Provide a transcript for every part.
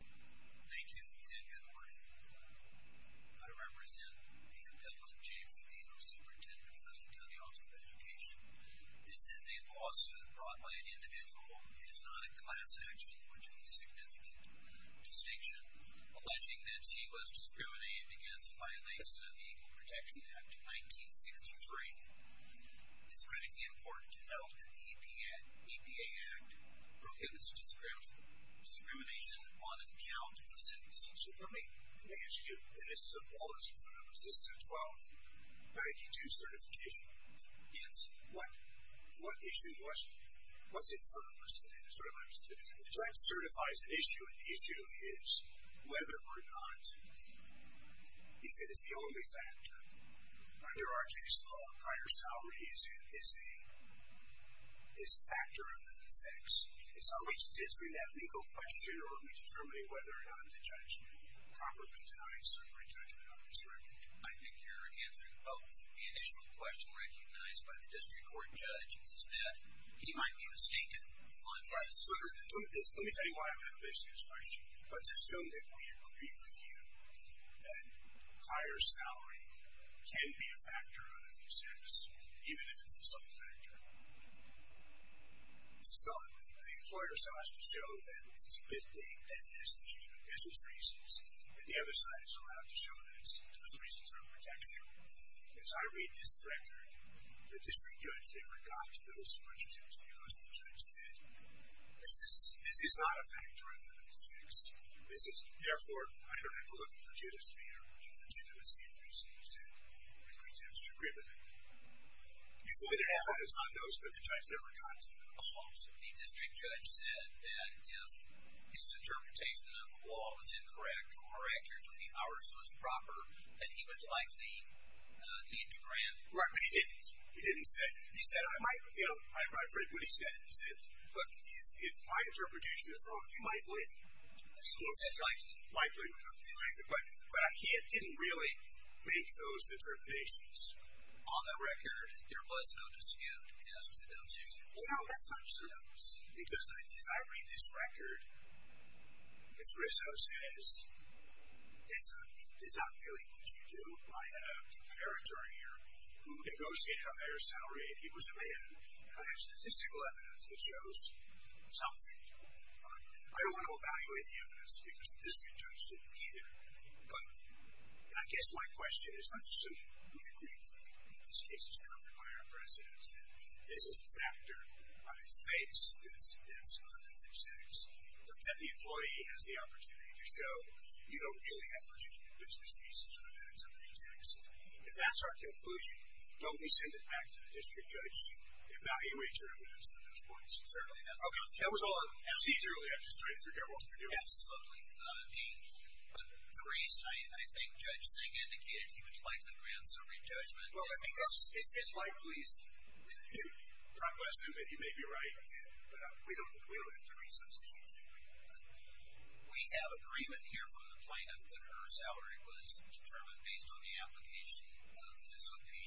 Thank you and good morning. I represent the appellant James Vito, Superintendent of the Fresno County Office of Education. This is a lawsuit brought by an individual. It is not a class action, which is a significant distinction, alleging that he was discriminated against in violation of the Equal Protection Act of 1963. It's critically important to note that the EPA Act prohibits discrimination on account of sex. So let me ask you, and this is a policy for us, this is a 1292 certification. Yes. What issue was, what's it for us today? The judge certifies an issue and the issue is whether or not, if it is the only factor, under our case law, prior salary is a factor other than sex. It's not just answering that legal question or determining whether or not the judge properly denies or rejects a non-discrimination. I think you're answering both. The initial question recognized by the district court judge is that he might be mistaken on privacy. Let me tell you why I'm going to place this question. Let's assume that we agree with you that higher salary can be a factor other than sex, even if it's a discrimination. The employer saw us to show that it's a good thing, that there's legitimate business reasons, and the other side is allowed to show that those reasons are a protection. As I read this record, the district judge never got to those questions because the judge said, this is not a factor other than sex. Therefore, I don't have to look in the judiciary for a legitimate reason, he said, in pretense to agree with me. He said it happens on notice, but the judge never got to those. The district judge said that if his interpretation of the law was incorrect, or accurately, ours was proper, that he would likely need to grant... Right, but he didn't. He didn't say, he said, I might, you know, I'm afraid what he said, he said, look, if my interpretation is wrong, he might win. He said he might win. But he didn't really make those determinations. On the record, there was no dispute as to those issues. No, that's not true. Because as I read this record, as Rizzo says, it's not really what you do. I had a comparator here who negotiated a higher salary, and he was a man, and I have statistical evidence that shows something. I don't want to evaluate the evidence, because the district judge said neither. But I guess my question is, let's assume we agree with you that this case is covered by our president, and this is a factor on his face, that's on another sex, that the employee has the opportunity to show, you know, really, I thought you did a business thesis, or that it's a pretext. If that's our conclusion, don't we send it back to the district judge to evaluate your evidence on those points? Certainly, that's our conclusion. Okay. That was all I'm asking. See, truly, I'm just trying to figure out what we're doing. Absolutely. The reason I think Judge Singh indicated he would like the grand summary judgment. Well, I mean, this is likely a huge progress in that he may be right, but we don't have to resubstitute the agreement. We have agreement here from the plaintiff that her salary was determined based on the application of, this would be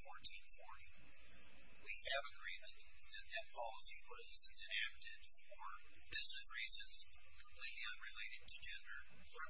1440. We have agreement that that policy was enacted for business reasons completely unrelated to gender. But she does make a pretext in that case. She makes a pretext in the application of two or three people, which we dispute. I mean, absolutely. But I don't want to give you that. I don't want to give you those kinds of things. I've never been to the district judge.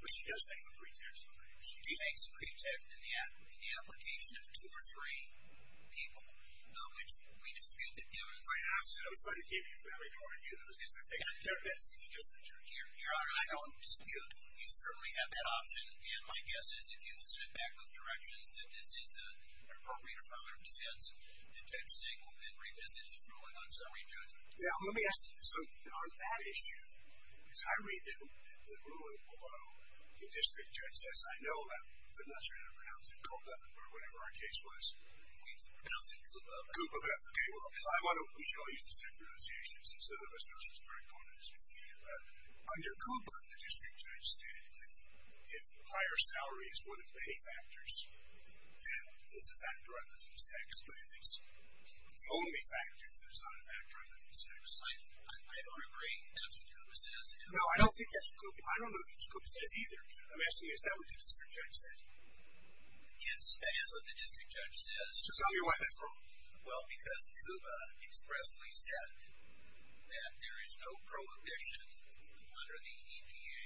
Here, I don't dispute. You certainly have that option. And my guess is, if you sit it back with corrections, that this is an appropriate affirmative defense. And Judge Singh will then readjust his ruling on summary judgment. Now, let me ask you. So, on that issue, because I read the ruling below, the district judge says, I know about, but I'm not sure how to pronounce it. Coupa, or whatever our case was. We pronounce it Coupa. Coupa. Okay, well, I want to show you the centralization, since none of us knows this very well. Under Coupa, the district judge said, if higher salary is one of many factors, then it's a factor other than sex. But if it's the only factor, then it's not a factor other than sex. I don't agree. That's what Coupa says. No, I don't think that's what Coupa says. I don't know what Coupa says either. I'm asking you, is that what the district judge said? Yes, that is what the district judge says. So tell me why that's wrong. Well, because Coupa expressly said that there is no prohibition under the EPA.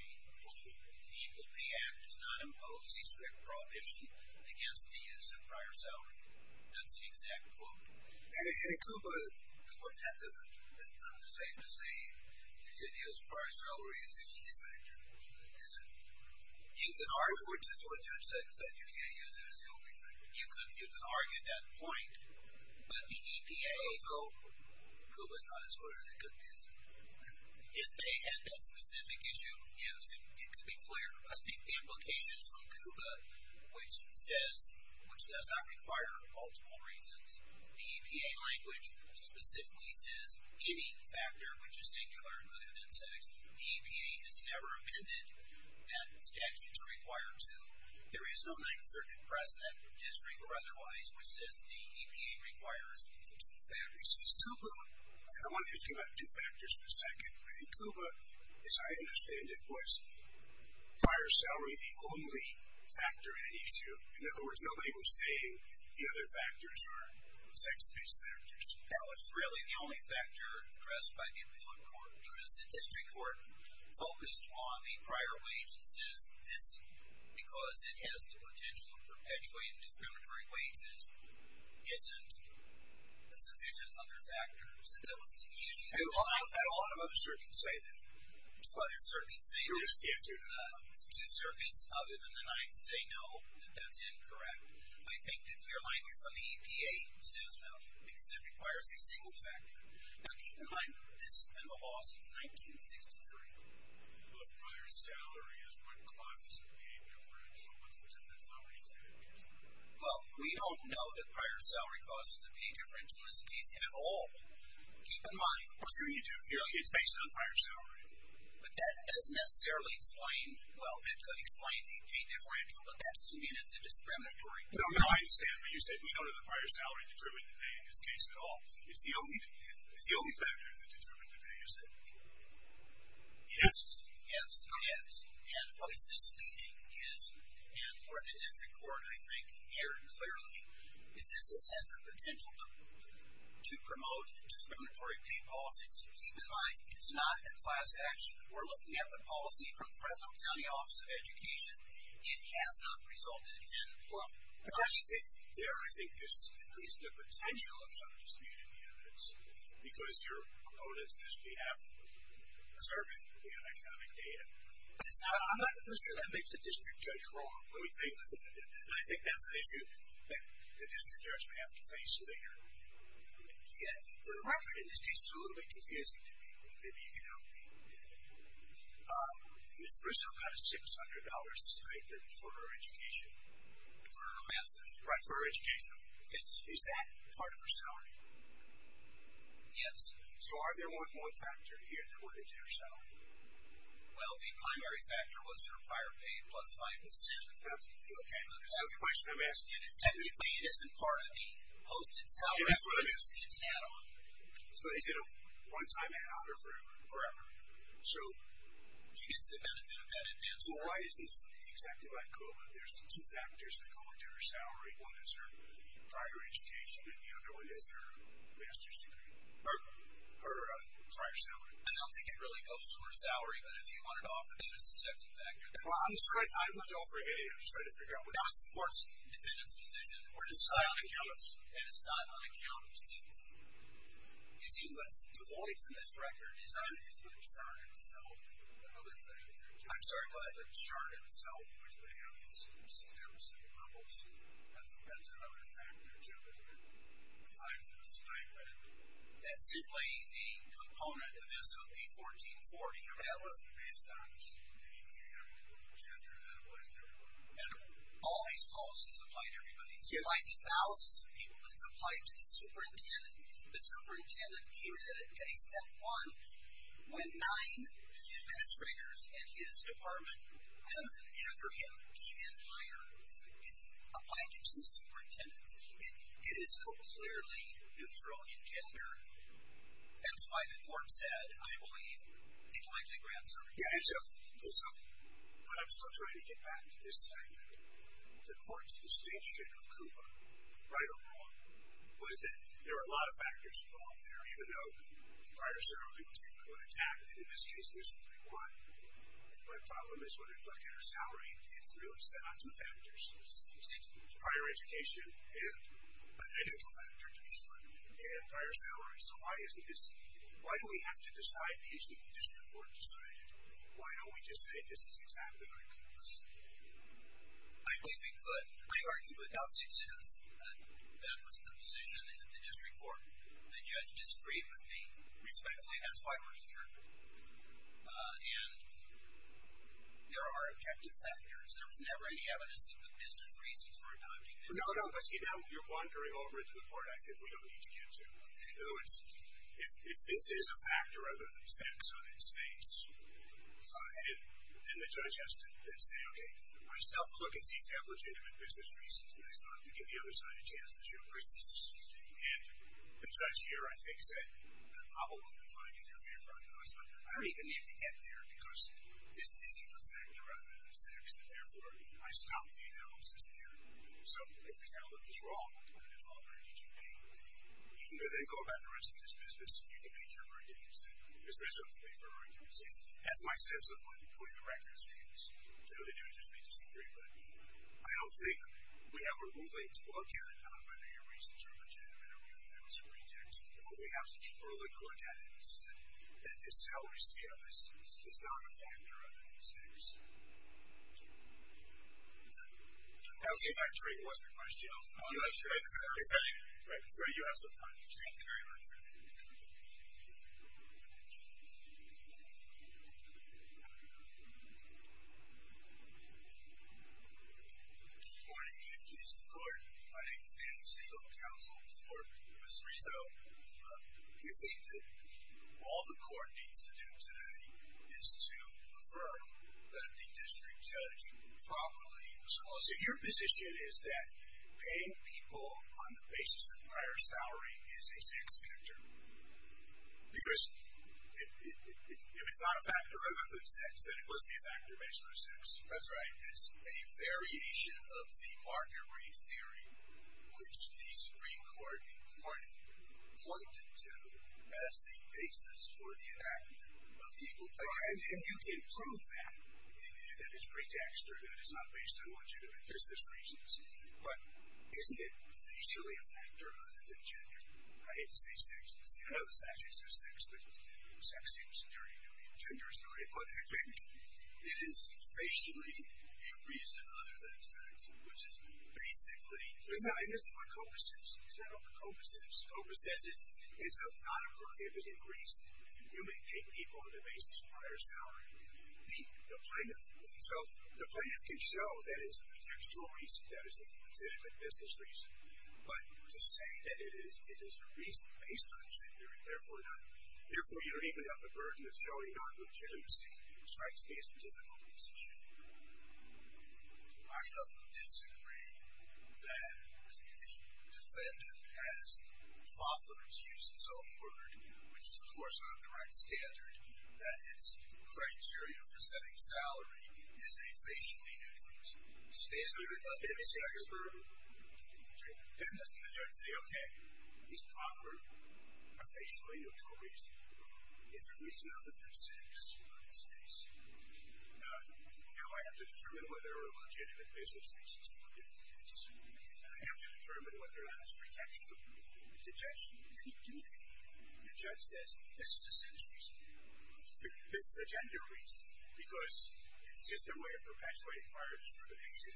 The EPA act does not impose a strict prohibition against the use of prior salary. That's the exact quote. And in Coupa, the court had to understate the saying, you can use prior salary as the only factor. Is it? You can argue, which is what you said, you can't use it as the only factor. You can argue that point, but the EPA. Oh, so Coupa is not as good as it could be as it could be. If they had that specific issue of use, it could be clear. I think the implications from Coupa, which says, which does not require multiple reasons, the EPA language specifically says any factor which is singular other than sex. The EPA has never amended that sex is required to. There is no 9th Circuit precedent, district or otherwise, which says the EPA requires two factors. So it's Coupa. I want to ask you about two factors for a second. In Coupa, as I understand it, was prior salary the only factor in the issue. In other words, nobody was saying the other factors are sex-based factors. That was really the only factor addressed by the appellate court because the district court focused on the prior wages. Because it has the potential to perpetuate discriminatory wages, isn't sufficient other factors. How do other circuits say that? Other circuits say that. Two circuits other than the 9th say no, that that's incorrect. I think the clear language from the EPA says no because it requires a single factor. Now, keep in mind, this has been the law since 1963. If prior salary is what causes a pay differential, what's the difference? How are you saying it? Well, we don't know that prior salary causes a pay differential in this case at all. Keep in mind. Well, sure you do. It's based on prior salary. But that doesn't necessarily explain, well, that could explain a pay differential, but that doesn't mean it's a discriminatory. No, no, I understand. But you said we don't know the prior salary determined today in this case at all. It's the only factor that determined today, is it? Yes. Yes. Yes. And what is misleading is, and where the district court, I think, erred clearly, is this has the potential to promote discriminatory pay policies. Keep in mind, it's not a class action. We're looking at the policy from Fresno County Office of Education. It has not resulted in employment. There, I think, is at least the potential of some disputed units because you're quoting us as being conservative in economic data. I'm not sure that makes the district judge wrong, let me tell you. I think that's an issue that the district judge may have to face later. The record in this case is a little bit confusing to me. Maybe you can help me. Ms. Briscoe got a $600 stipend for her education. For her master's degree. Right, for her education. Is that part of her salary? Yes. So are there more than one factor here that was in her salary? Well, the primary factor was her prior paid plus 5%. Okay, so that's the question I'm asking. Technically, it isn't part of the posted salary. It's an add-on. So is it a one-time add-on or forever? Forever. She gets the benefit of that advance. Well, why isn't this exactly like COVID? There's two factors that go into her salary. One is her prior education, and the other one is her master's degree, or her prior salary. I don't think it really goes to her salary, but if you wanted to offer that as a second factor. Well, I'm not offering any. I'm just trying to figure out what that is. That's the board's independent decision. It's not on account of seats. You see, what's devoid from this record is either he's put a chart himself or another factor. I'm sorry, what? A chart himself, which they have these stamps and rubles. That's another factor, too, that's been assigned to this document. That's simply the component of SOP 1440. That wasn't based on anything you had to put together, and that applies to everyone. All these policies apply to everybody. It's applied to thousands of people. It's applied to the superintendent. The superintendent came in at day step one when nine administrators in his department come in after him, came in higher. It's applied to the superintendent's team, and it is so clearly neutral in gender. That's why the board said, I believe, it likely grants everybody. But I'm still trying to get back to this fact that the court's distinction of KUPA, right or wrong, was that there were a lot of factors involved there, even though the prior salary was input and taxed, and in this case there's only one. My problem is when I look at our salary, it's really set on two factors. It's prior education and an additional factor, and prior salary. So why is this? Why do we have to decide these that the district court decided? Why don't we just say this is exactly like KUPA's? I believe we could. I argue without success that that was the position at the district court. The judge disagreed with me. Respectfully, that's why we're here. And there are objective factors. There was never any evidence that the business reasons for adopting this policy. No, no, I see now you're wandering over into the part I said we don't need to get to. In other words, if this is a factor other than sex on its face, then the judge has to then say, okay, I still have to look and see if you have legitimate business reasons, and I still have to give the other side a chance to show reasons. And the judge here, I think, said, I'm probably going to try to give you a fair framework on this, but I don't even need to get there because this isn't a factor other than sex, and, therefore, I stopped the analysis there. So if we tell them it was wrong, and it's all very KUPA, and they go about the rest of this business, you can make your arguments. If there's a paper argument that says, that's my sense of what the point of the record is, the other judges may disagree. But I don't think we have a ruling to look at it on whether your reasons are legitimate or whether there was a rejection. What we have to keep a look at is that this salary scale is not a factor other than sex. Okay. Actually, it wasn't a question. I'm not sure. So you have some time. Thank you very much. Good morning. Good morning. My name is Dan Siegel, Counsel for Mr. Rizzo. We think that all the court needs to do today is to affirm that the district judge properly was wrong. So your position is that paying people on the basis of prior salary is a sex factor? Because if it's not a factor other than sex, then it must be a factor based on sex. That's right. It's a variation of the market rate theory, which the Supreme Court in Corning pointed to as the basis for the act of equal pay. And you can prove that in its pretext, or that it's not based on what you're doing. There's reasons. But isn't it basically a factor other than gender? I hate to say sex. I know the statute says sex, but sex seems very new. Gender is new. But I think it is racially a reason other than sex, which is basically. And this is what COPA says. Is that what COPA says? COPA says it's a non-prohibited reason. You may pay people on the basis of prior salary. The plaintiff can show that it's a textual reason, that it's a legitimate business reason. But to say that it is a reason based on gender, and therefore you're even at the burden of showing non-legitimacy, strikes me as a difficult position. I don't disagree that the defendant has, to use his own word, which is, of course, not the right standard, that its criteria for setting salary is a facially neutral reason. It's a reason other than sex. Let me see. Didn't the judge say, okay, these proffered are facially neutral reasons. It's a reason other than sex. Now, I have to determine whether a legitimate business reason is forbidden in this case. I have to determine whether or not it's pretextual. The judge didn't do that. The judge says, this is a sex reason. This is a gender reason, because it's just a way of perpetuating prior discrimination.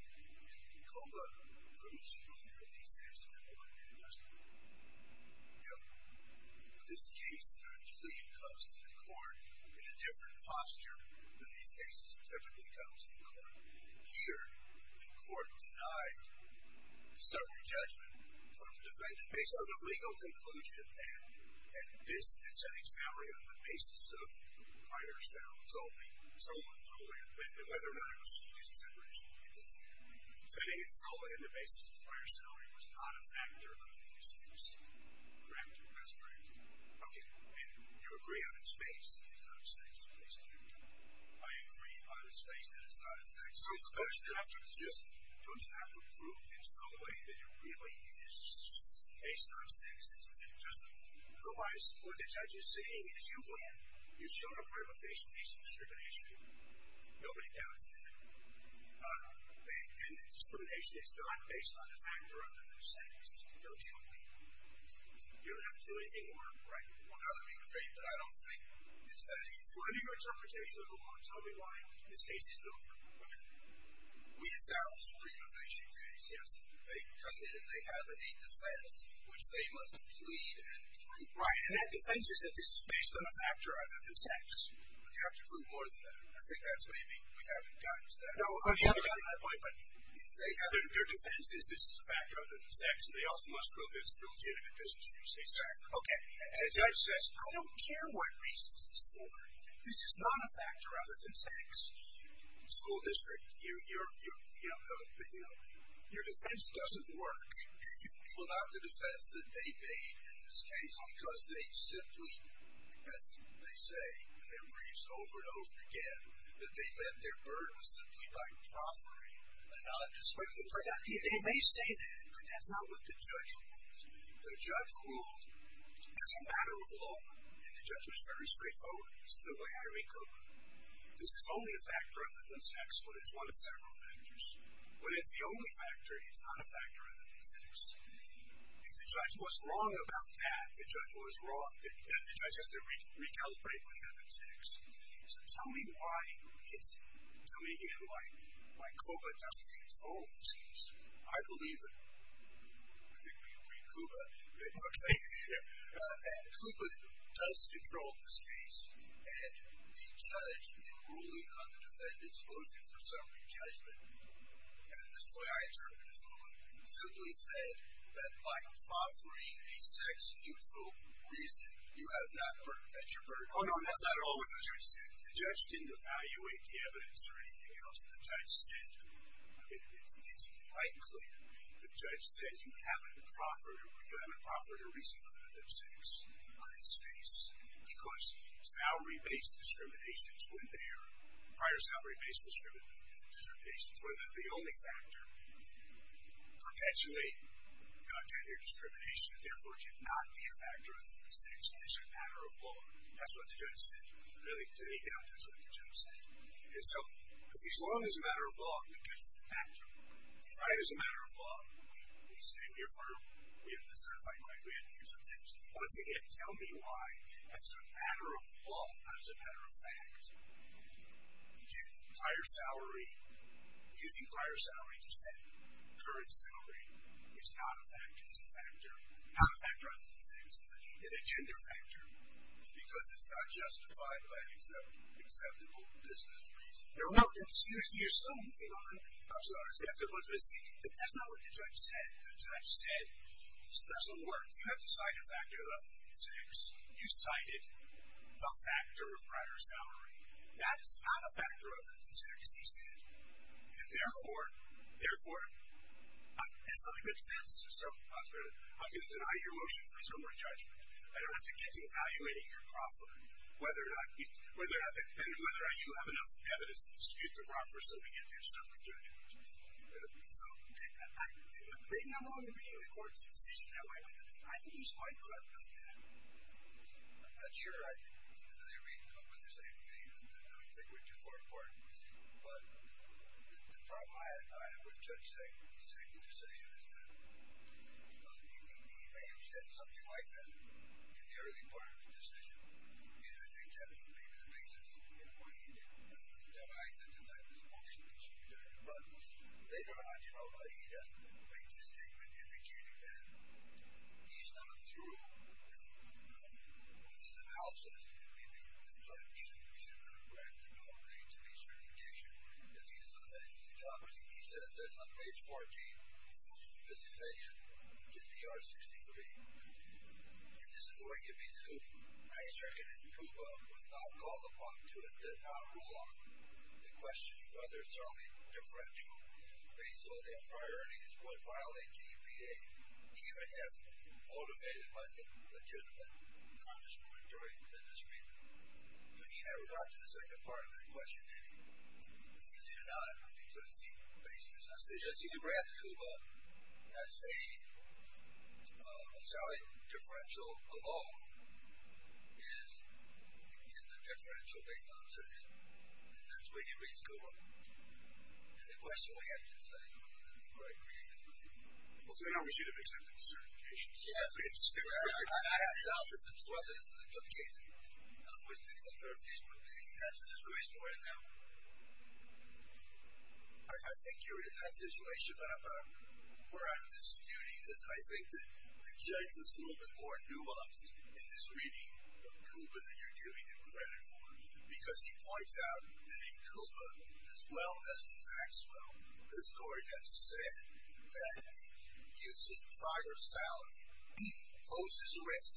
And COPA approves COPA in the sense of a non-judgmental reason. Now, in this case, the defendant comes to the court in a different posture than these cases typically come to the court. Here, the court denied certain judgment from the defendant based on a legal conclusion. And this, and setting salary on the basis of prior salary, whether or not it was solely as a separation of people, setting it solely on the basis of prior salary was not a factor of the misuse, correct? That's correct. Okay. And you agree on its face that it's not a sex reason? I agree on its face that it's not a sex reason. Don't you have to prove in some way that it really is based on sex? Otherwise, what the judge is saying is, you went and you showed a part of a facial piece of discrimination. Nobody doubts that. And the discrimination is not based on the fact or other than sex. Don't you agree? You don't have to do anything more. Right. Well, now that we've agreed, but I don't think it's that easy. What is your interpretation of the law? Tell me why this case is no more appropriate. We established the removation case. Yes. They come in and they have a defense which they must plead and prove. Right. And that defense is that this is based on a factor other than sex. But you have to prove more than that. I think that's maybe we haven't gotten to that point. No, we haven't gotten to that point, but their defense is this is a factor other than sex, and they also must prove it's a legitimate business reason. Exactly. Okay. And the judge says, I don't care what reason this is for. This is not a factor other than sex. School district, your defense doesn't work. Well, not the defense that they made in this case, because they simply, as they say, and they've reused over and over again, that they met their burden simply by proffering a nondiscrimination. They may say that, but that's not with the judge. The judge ruled it's a matter of law, and the judge was very straightforward as to the way I rate COPA. This is only a factor other than sex when it's one of several factors. When it's the only factor, it's not a factor other than sex. If the judge was wrong about that, the judge was wrong, then the judge has to recalibrate what happened to sex. So tell me why COPA doesn't control this case. I believe that COPA does control this case, and the judge in ruling on the defendant's motion for summary judgment, and this is the way I interpret his ruling, simply said that by proffering a sex neutral reason, you have not met your burden. The judge didn't evaluate the evidence or anything else. The judge said, it's quite clear, the judge said you haven't proffered a reason other than sex on its face because prior salary-based discriminations were the only factor perpetuate gender discrimination and therefore cannot be a factor other than sex. This is a matter of law. That's what the judge said. Really, to me, that's what the judge said. And so as long as it's a matter of law, it's a factor. If you try it as a matter of law, you say we have to certify a claim, we have to use that sex. Once again, tell me why as a matter of law, not as a matter of fact, using prior salary to say current salary is not a factor other than sex is a gender factor. Because it's not justified by an acceptable business reason. No, no, seriously, you're still moving on. I'm sorry. That's not what the judge said. The judge said this doesn't work. You have to cite a factor other than sex. You cited the factor of prior salary. That is not a factor other than sex. And therefore, therefore, that's not a good defense. I'm going to deny your motion for summary judgment. I don't have to get to evaluating your proffer, and whether or not you have enough evidence to dispute the proffer so we get to your summary judgment. So maybe I'm wrong in bringing the court's decision that way. I think he's right because I've done that. I'm not sure I agree with the same thing. I don't think we're too far apart. But the problem I have with Judge Sagan's decision is that he may have said something like that in the early part of the decision. And I think that's maybe the basis of why he didn't deny the defense motion in summary judgment. But later on, you know, he does make the statement indicating that he's not through with his analysis. So I think we should have a grant to go into the certification if he's not finished his job. He says this on page 14. He says he's paying it to DR-63. And this is the way he's going to do it. I reckon that Cuba was not called upon to not rule on the question whether it's only deferential. They saw their priorities would violate GPA even if motivated by the legitimate non-discriminatory indiscretion. So he never got to the second part of that question, did he? He did not because he raised his decision. Yes, he did. He raised Cuba as a salary differential alone is a differential based on citizenry. And that's the way he raised Cuba. And the question we have to decide whether that's the right way to do it. Well, then I wish he'd have accepted the certification. That's a good story. I think you're in that situation. But where I'm disputing is I think that the judge was a little bit more nuanced in his reading of Cuba than you're giving him credit for because he points out that in Cuba, as well as in Maxwell, the story has said that using prior salary poses a risk,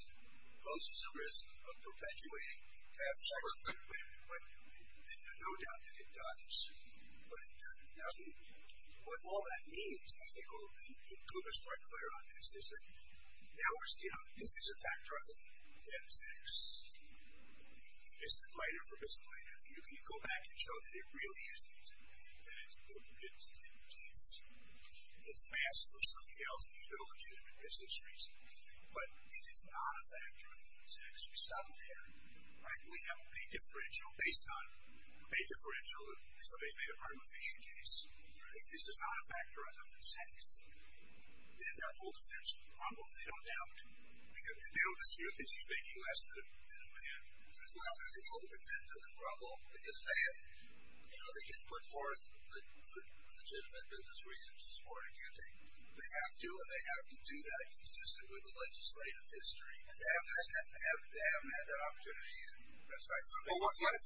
poses a risk of perpetuating. And no doubt that it does, but it doesn't. What all that means, I think, and Cuba's quite clear on this, is that now we're standing on it. This is a factor of M6. It's the fighter for disciplinarity. If you can go back and show that it really is disciplinary, then it's a good statement. It's a mask for something else. It's no legitimate business reason. But if it's not a factor of M6, we stop there. We have a pay differential based on a pay differential. This may have been a part of a fishing case. If this is not a factor of M6, then there are whole defensive problems, they don't doubt. They don't dispute that she's making less than a man. It's not a whole defensive problem. They can put forth legitimate business reasons to support it again. They have to, and they have to do that consistent with the legislative history. They haven't had that opportunity yet. That's right.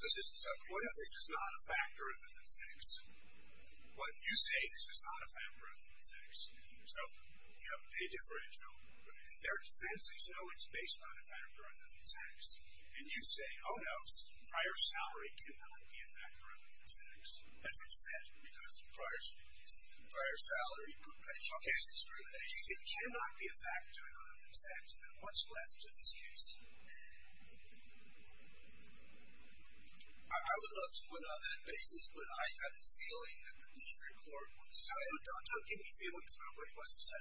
This is not a factor of M6. You say this is not a factor of M6. So, pay differential. Their defenses know it's based on a factor of M6. And you say, oh, no, prior salary cannot be a factor of M6. That's what you said, because prior salaries, prior salary, pay differential, pay discrimination, it cannot be a factor of M6. Then what's left of this case? I would love to put it on that basis, but I have a feeling that the district court would say, oh, don't give me feelings about what he wants to say.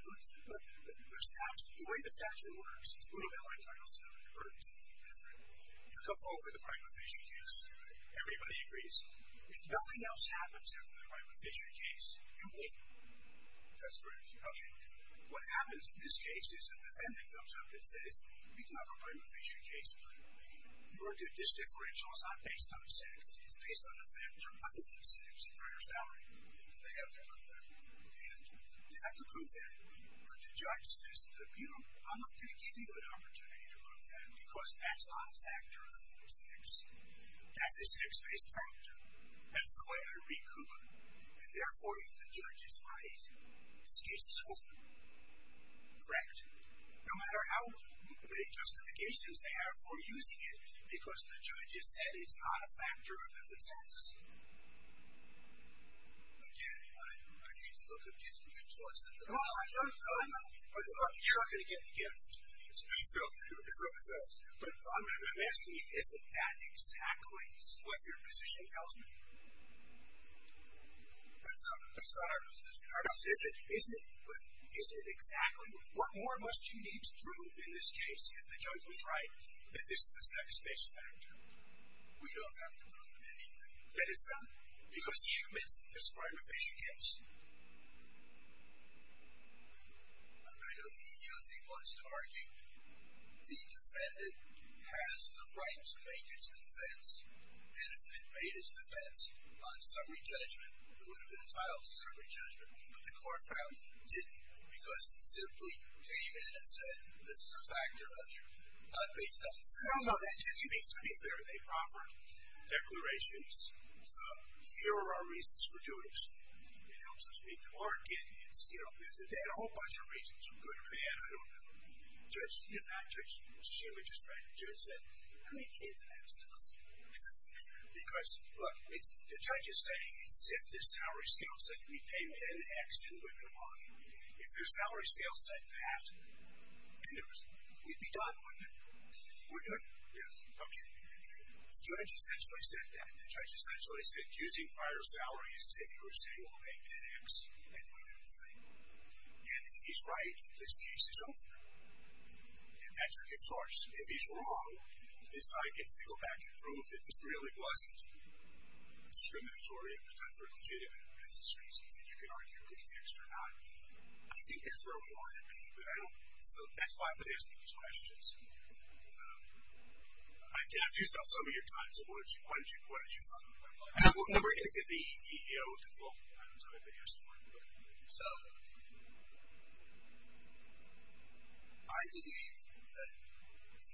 Look, the way the statute works, it's a little bit like Title VII, but it's a little bit different. You come forward with a prima facie case. Everybody agrees. If nothing else happens after the prima facie case, you win. That's correct. Okay. What happens in this case is an offending comes up that says, we can have a prima facie case, but your disdifferential is not based on 6. It's based on a factor of M6, prior salary. They have to prove that. And they have to prove that. But the judge says to the appeal, I'm not going to give you an opportunity to prove that, because that's not a factor of M6. That's a 6-based factor. That's the way I read CUPA. And, therefore, if the judge is right, this case is open. Correct? No matter how many justifications they have for using it, because the judge has said it's not a factor of M6. Again, I need to look at getting your thoughts on this. Look, you're not going to get the gift. But I'm asking you, isn't that exactly what your position tells me? That's not our position. Isn't it exactly? What more must you need to prove in this case if the judge was right that this is a 6-based factor? We don't have to prove anything. Because you missed the prima facie case. I know the EEOC wants to argue the defendant has the right to make its defense. And if it made its defense on summary judgment, it would have been entitled to summary judgment. But the court found it didn't, because it simply came in and said this is a factor of M6. No, no, that seems to be fair. They proffered declarations. Here are our reasons for doing this. It helps us beat the market. There's a whole bunch of reasons, good or bad, I don't know. In fact, she was just right. The judge said, I need to get to that assessment. Because, look, the judge is saying it's as if this salary scale said we pay men X and women Y. If the salary scale said that, we'd be done, wouldn't we? We're done. Yes. Okay. The judge essentially said that. And if he's right, this case is over. And Patrick is harsh. If he's wrong, this side gets to go back and prove that this really wasn't discriminatory or legitimate for business reasons. And you can argue please X or not. I think that's where we want to be. So that's why I'm asking these questions. I've used up some of your time. So what did you find? We're going to get the EEO consult. I don't know if they asked for it, but. So I believe that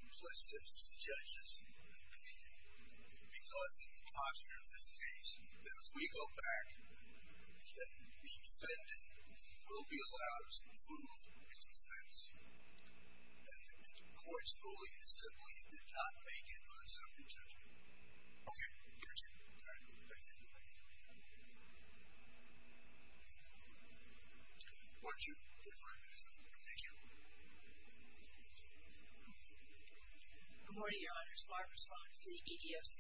implicitly, the judge doesn't believe me. Because of the posture of this case, that if we go back, that the defendant will be allowed to prove his offense. And the court's ruling is simply, you did not make an unsubstantial judgment. Okay. Thank you. All right. Thank you. Why don't you give her a minute or something? Thank you. Good morning, Your Honors. Barbara Sloan from the EEOC.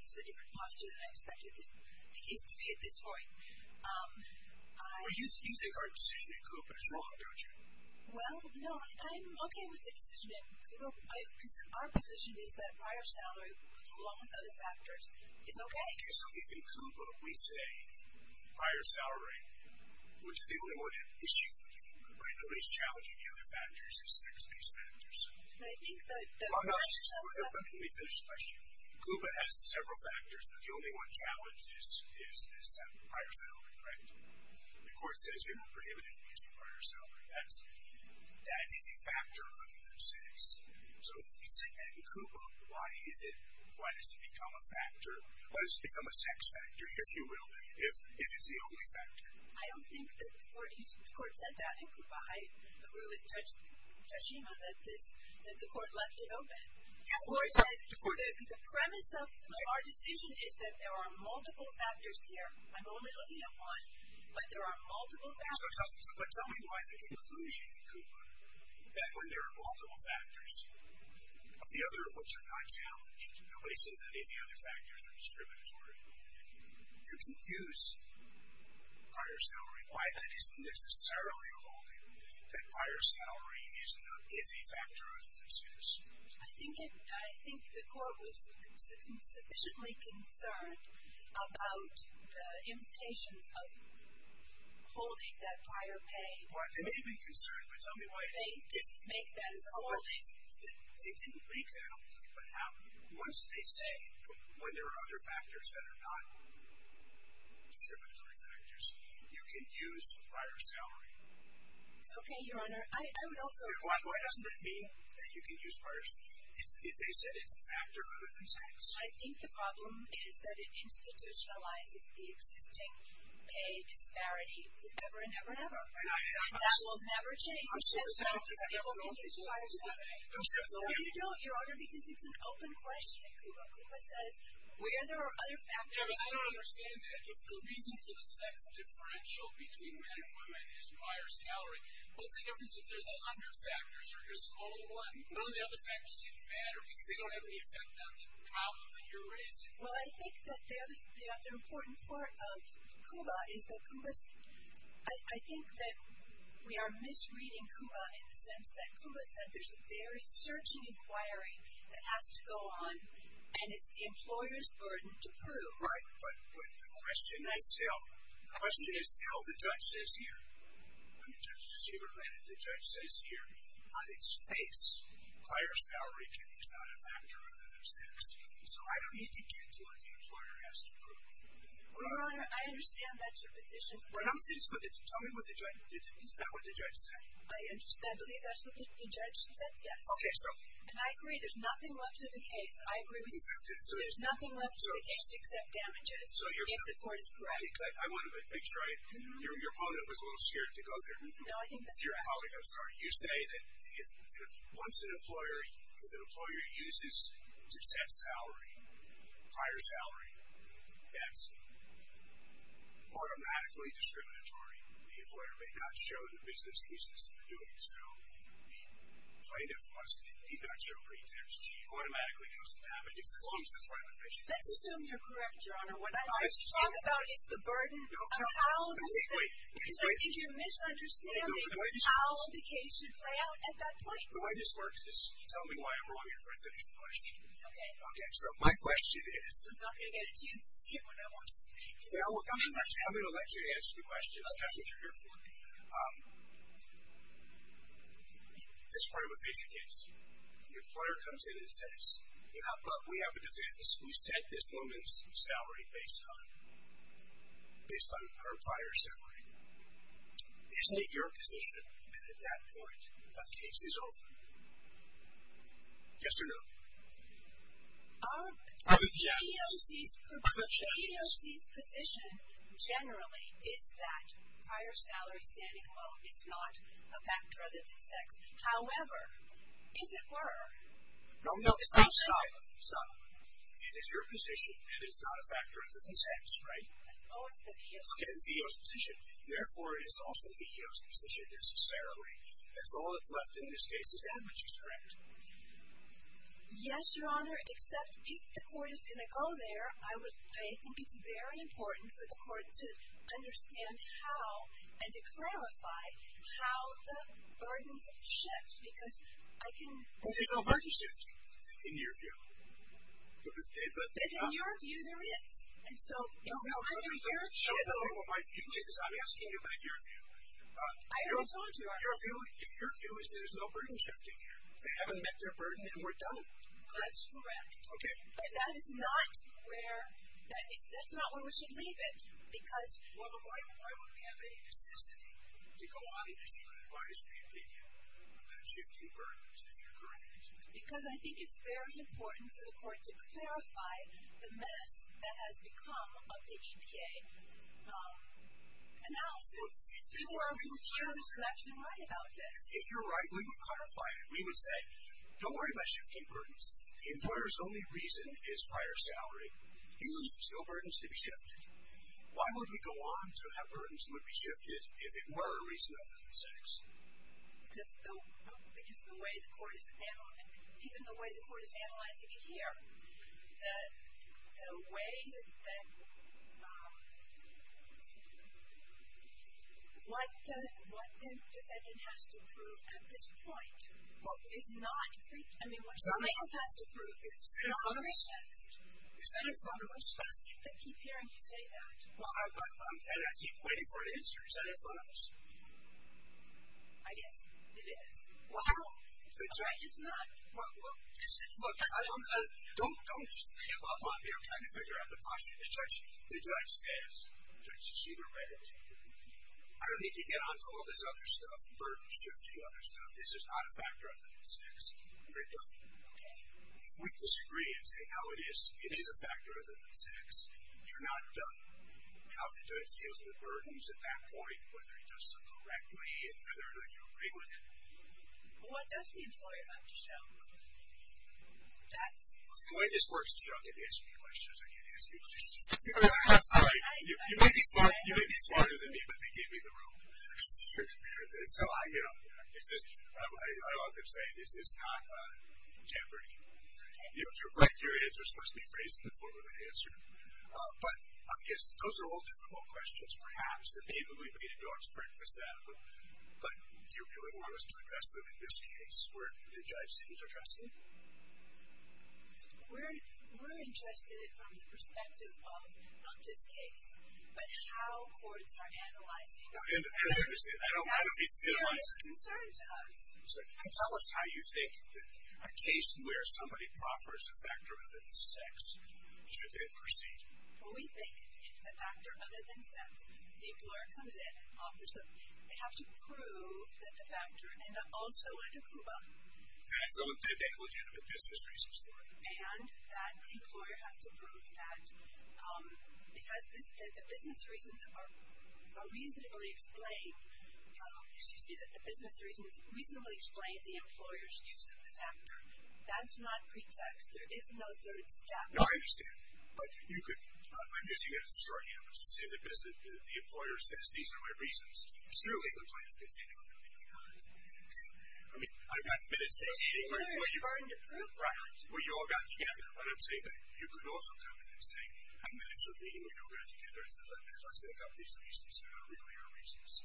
This is a different posture than I expected the case to be at this point. Well, you said our decision in Coop and it's wrong, don't you? Well, no. I'm okay with the decision in Coop. Our position is that prior salary, along with other factors, is okay. Okay. So if in Coop we say prior salary, which is the only one issue in Coop, right, the least challenging of the other factors is sex-based factors. I think that prior salary. Let me finish the question. Coop has several factors, but the only one challenge is prior salary, correct? The court says you're not prohibited from using prior salary. That is a factor of six. So if we say that in Coop, why does it become a factor, or does it become a sex factor, if you will, if it's the only factor? I don't think the court said that in Coop. I agree with Tashima that the court left it open. The court did. The premise of our decision is that there are multiple factors here. I'm only looking at one, but there are multiple factors. But tell me why the conclusion in Coop, that when there are multiple factors, the other of which are not challenged, nobody says that any of the other factors are discriminatory. You can use prior salary. Why then isn't necessarily a holding that prior salary is a factor of six? I think the court was sufficiently concerned about the implications of holding that prior pay. They may be concerned, but tell me why it isn't. They make that as a holding. They didn't make that a holding, but once they say when there are other factors that are not discriminatory factors, you can use prior salary. Okay, Your Honor, I would also agree. Why doesn't it mean that you can use prior salary? They said it's a factor other than six. I think the problem is that it institutionalizes the existing pay disparity forever and ever and ever, and that will never change. I'm so sorry. No, you don't, Your Honor, because it's an open question in Coop. Coop says where there are other factors. Yeah, but I don't understand that. If the reason for the sex differential between men and women is prior salary, what's the difference if there's 100 factors or just only one? None of the other factors even matter because they don't have any effect on the problem that you're raising. Well, I think that the other important part of COOBA is that COOBA said we are misreading COOBA in the sense that COOBA said there's a very surging inquiry that has to go on, and it's the employer's burden to prove. Right, but the question is still the judge says here. The judge says here, on its face, prior salary is not a factor of the sex. So I don't need to get to what the employer has to prove. Well, Your Honor, I understand that's your position. Tell me what the judge said. I believe that's what the judge said, yes. Okay, so. And I agree there's nothing left to the case. I agree with you. There's nothing left to the case except damages if the court is correct. I want to make sure. Your opponent was a little scared to go there. No, I think that's correct. I'm sorry. You say that once an employer uses a set salary, prior salary, that's automatically discriminatory. The employer may not show the business uses for doing so. The plaintiff must not show pretext. She automatically goes to damages as long as it's right on the face of the law. Let's assume you're correct, Your Honor. What I'd like to talk about is the burden of how this thing. No, wait, wait. Because I think you're misunderstanding how the case should play out at that point. The way this works is tell me why I'm wrong and try to finish the question. Okay. Okay, so my question is. I'm not going to get it until you see it when I watch the video. I'm going to let you answer the question. That's what you're here for. This is probably a more basic case. Your employer comes in and says, We have a defense. We set this woman's salary based on her prior salary. Isn't it your position that at that point the case is over? Yes or no? The EEOC's position generally is that prior salary is standing alone. It's not a factor other than sex. However, if it were. No, no. Stop, stop. It is your position that it's not a factor other than sex, right? Oh, it's the EEOC's position. Okay, it's the EEOC's position. Therefore, it is also the EEOC's position necessarily. That's all that's left in this case is damages, correct? Yes, Your Honor, except if the court is going to go there, I think it's very important for the court to understand how and to clarify how the burdens shift because I can. But there's no burden shift in your view. But in your view, there is. And so in your view. My view is I'm asking you about your view. Your view is there's no burden shift in here. They haven't met their burden and we're done. That's correct. Okay. But that is not where we should leave it because. Well, then why would we have any necessity to go on if you would advise the opinion about shifting burdens, if you're correct? Because I think it's very important for the court to clarify the mess that has become of the EPA analysis. There are a few years left to write about this. If you're right, we would clarify it. We would say, don't worry about shifting burdens. The employer's only reason is prior salary. He leaves no burdens to be shifted. Why would we go on to have burdens that would be shifted if it were a reason other than sex? Because the way the court is analyzing it here, the way that what the defendant has to prove at this point is not free. I mean, what the plaintiff has to prove is not free text. Is not free text. Do you keep hearing me say that? And I keep waiting for an answer. Is that in front of us? I guess it is. No, it's not. Well, look, don't just give up on me. I'm trying to figure out the question. The judge says, she's either read it. I don't need to get on to all this other stuff, burden shifting, other stuff. This is not a factor of sex. Okay. Point the screen and say how it is. It is a factor other than sex. You're not done. How the judge deals with burdens at that point, whether he does so correctly and whether or not you agree with it. What does the employer have to show? The way this works is you don't get to ask me questions. I can't ask you questions. I'm sorry. You may be smarter than me, but they gave me the rope. So, you know, I love to say this is not temporary. Your answer is supposed to be phrased in the form of an answer. But I guess those are all difficult questions, perhaps, and maybe we need to go out and practice that. But do you really want us to address them in this case where the judge seems to trust you? We're interested from the perspective of this case, but how courts are analyzing those questions, that's a serious concern to us. Tell us how you think a case where somebody proffers a factor other than sex should then proceed. Well, we think if it's a factor other than sex, the employer comes in and offers it. They have to prove that the factor ended up also in a CUBA. That they have legitimate business reasons for it. And that the employer has to prove that the business reasons are reasonably explained, excuse me, that the business reasons reasonably explain the employer's use of the factor. That's not pretext. There is no third step. No, I understand. But you could, I'm guessing you had a short hand, but you said the employer says these are my reasons. It certainly looks like it's going to say no. I mean, I've got minutes. We all got together. I don't say that. You could also come in and say, I've got minutes of meeting. We all got together and said let's make up these reasons that are really our reasons. So,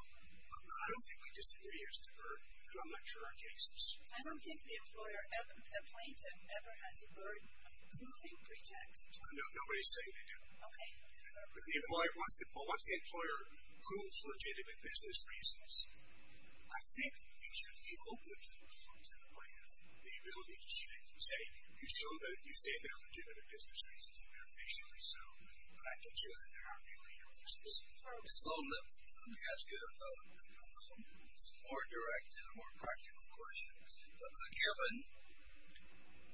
I don't think we disagree as to her, and I'm not sure our case is. I don't think the employer ever complained and ever has a word of proving pretext. No, nobody's saying they do. Okay. But the employer wants the employer to prove legitimate business reasons. I think you should be open to the point of the ability to say, you say they're legitimate business reasons and they're facially so, but I can show that they're not really your business reasons. Just a little bit. Let me ask you a more direct and a more practical question. Given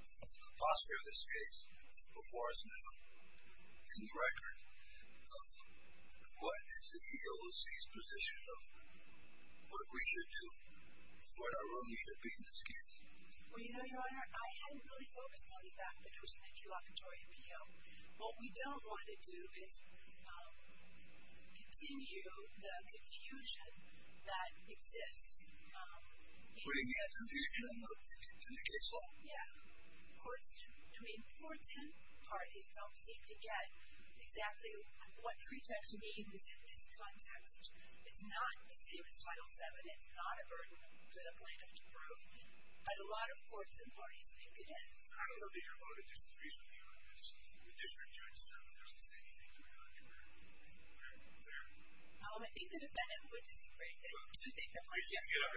the posture of this case is before us now in the record, what is the EOC's position of what we should do, what our role should be in this case? Well, you know, Your Honor, I hadn't really focused on the fact that it was an interlocutory appeal. What we don't want to do is continue the confusion that exists. Putting that confusion in the case law? Yeah. I mean, courts and parties don't seem to get exactly what pretext we need to present this context. It's not the same as Title VII. It's not a burden for the plaintiff to prove, but a lot of courts and parties think it is. I don't know that Your Honor disagrees with me on this. The district judge doesn't say anything to the contrary. Fair? Well, I think the defendant would disagree, but I do think the plaintiff disagrees. I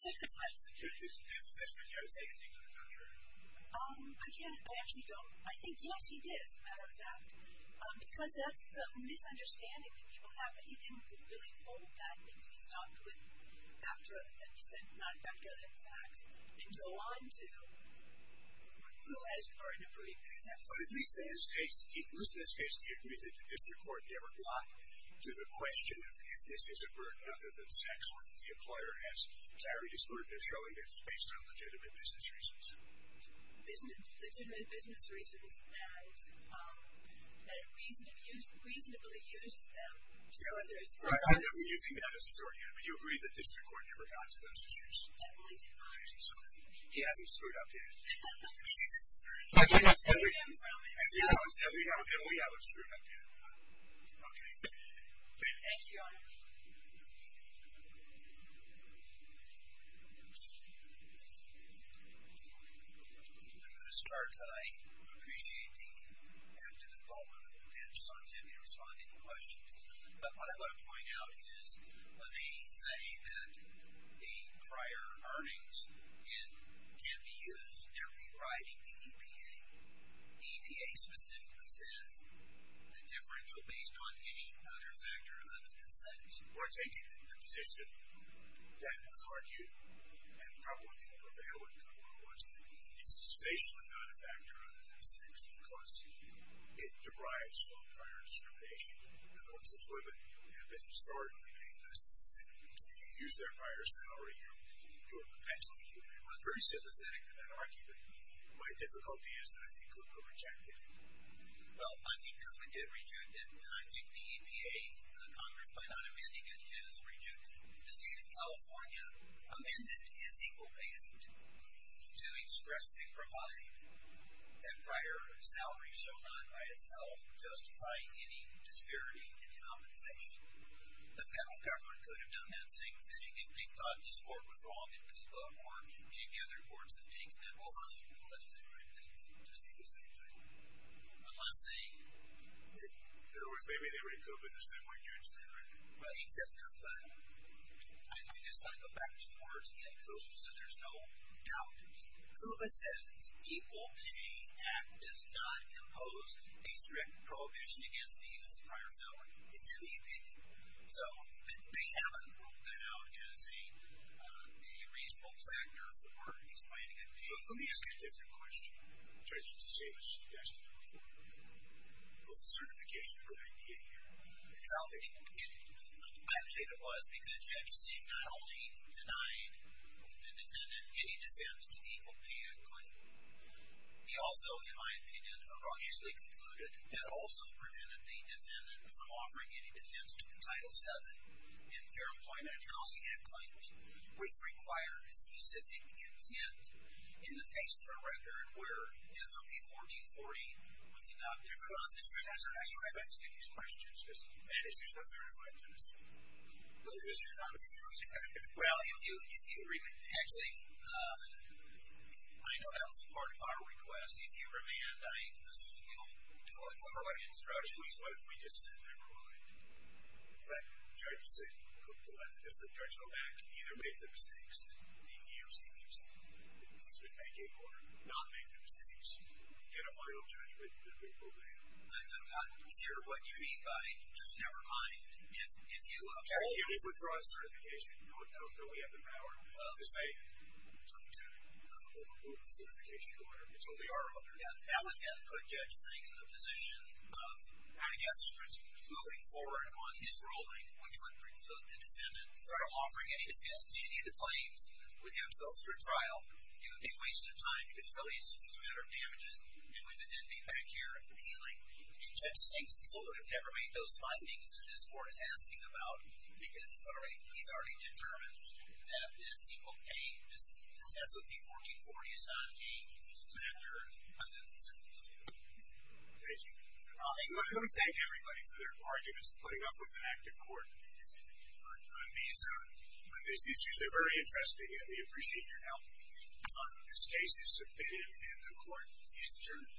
just have this question. Did the district judge say anything to the contrary? I can't. I actually don't. I think, yes, he did, as a matter of fact, because that's the misunderstanding that people have, but he didn't really hold that because he stopped with factor of, he said non-factor of the tax, and go on to rule as part of a pretext. But at least in this case, do you agree that the district court never blocked to the question of if this is a burden other than tax or if the employer has carried this burden of showing this based on legitimate business reasons? Legitimate business reasons that it reasonably uses them. I know we're using that as a shorthand, but do you agree that district court never got to those issues? Definitely did not. He hasn't screwed up yet. And we haven't screwed up yet. Okay. Thank you, Your Honor. I'm going to start, but I appreciate the active involvement of the bench, so I'm happy to respond to any questions. But what I want to point out is they say that the prior earnings can be used in rewriting the EPA. EPA specifically says the differential based on any other factor other than incentives. We're taking the position that was argued, and probably didn't prevail in court, was that it's basically not a factor other than incentives because it derives from prior discrimination. And the ones that sort of have been started on the green lists and if you use their prior salary, you're perpetuating it. I'm very sympathetic to that argument. My difficulty is that I think KUPA rejected it. Well, I think KUPA did reject it, and I think the EPA, Congress, by not amending it, has rejected it. The state of California amended its equal based to express they provide that prior salary shall not by itself justify any disparity in compensation. The federal government could have done that same thing if they thought this court was wrong in KUPA or if they thought more KUPA other courts had taken that. Well, unless they read KUPA the same way. Unless they... In other words, maybe they read KUPA the same way Judith said, right? Well, except not that one. I just want to go back to the words again. KUPA says there's no doubt. KUPA says the Equal Pay Act does not impose a strict prohibition against the use of prior salary. It's in the opinion. So, they haven't ruled that out as a reasonable factor for explaining a claim. Let me ask you a different question. Judge, it's the same as suggestion number four. It was a certification of an idea here. Exactly. I don't think it was because Judge Singh not only denied the defendant any defense to the Equal Pay Act claim, he also, in my opinion, erroneously concluded that also prevented the defendant from offering any defense to the Title VII in Fair Employment and Housing Act claims, which required a specific intent in the face of a record where SOP 1440 was not there. Well, that's correct. I just want to ask you these questions. And it's just not certified to us. No, it's not. Well, if you... Actually, I know that was part of our request. If you remand, I assume you'll do it according to strategy. What if we just said, never mind, let Judge Singh, just let the judge go back, either make their mistakes, and leave the U.C.C.C., make or not make their mistakes, get a final judgment, and then we'll remand. I'm not sure what you mean by, just never mind. If you... Okay, if you withdraw the certification, you don't really have the power to say, we took over the certification order. It's what we are under. Yeah, that would then put Judge Singh in the position of, I guess, moving forward on his ruling, which would preclude the defendant from offering any defense to any of the claims. We'd have to go through a trial. It would be a waste of time. It's really just a matter of damages. And we would then be back here appealing. And Judge Singh's clue would have never made those findings that this board is asking about because he's already determined that this SOP-1440 is not a matter of evidence. Thank you. I want to thank everybody for their arguments, putting up with an active court. This is usually very interesting, and we appreciate your help. This case is submitted, and the court is adjourned.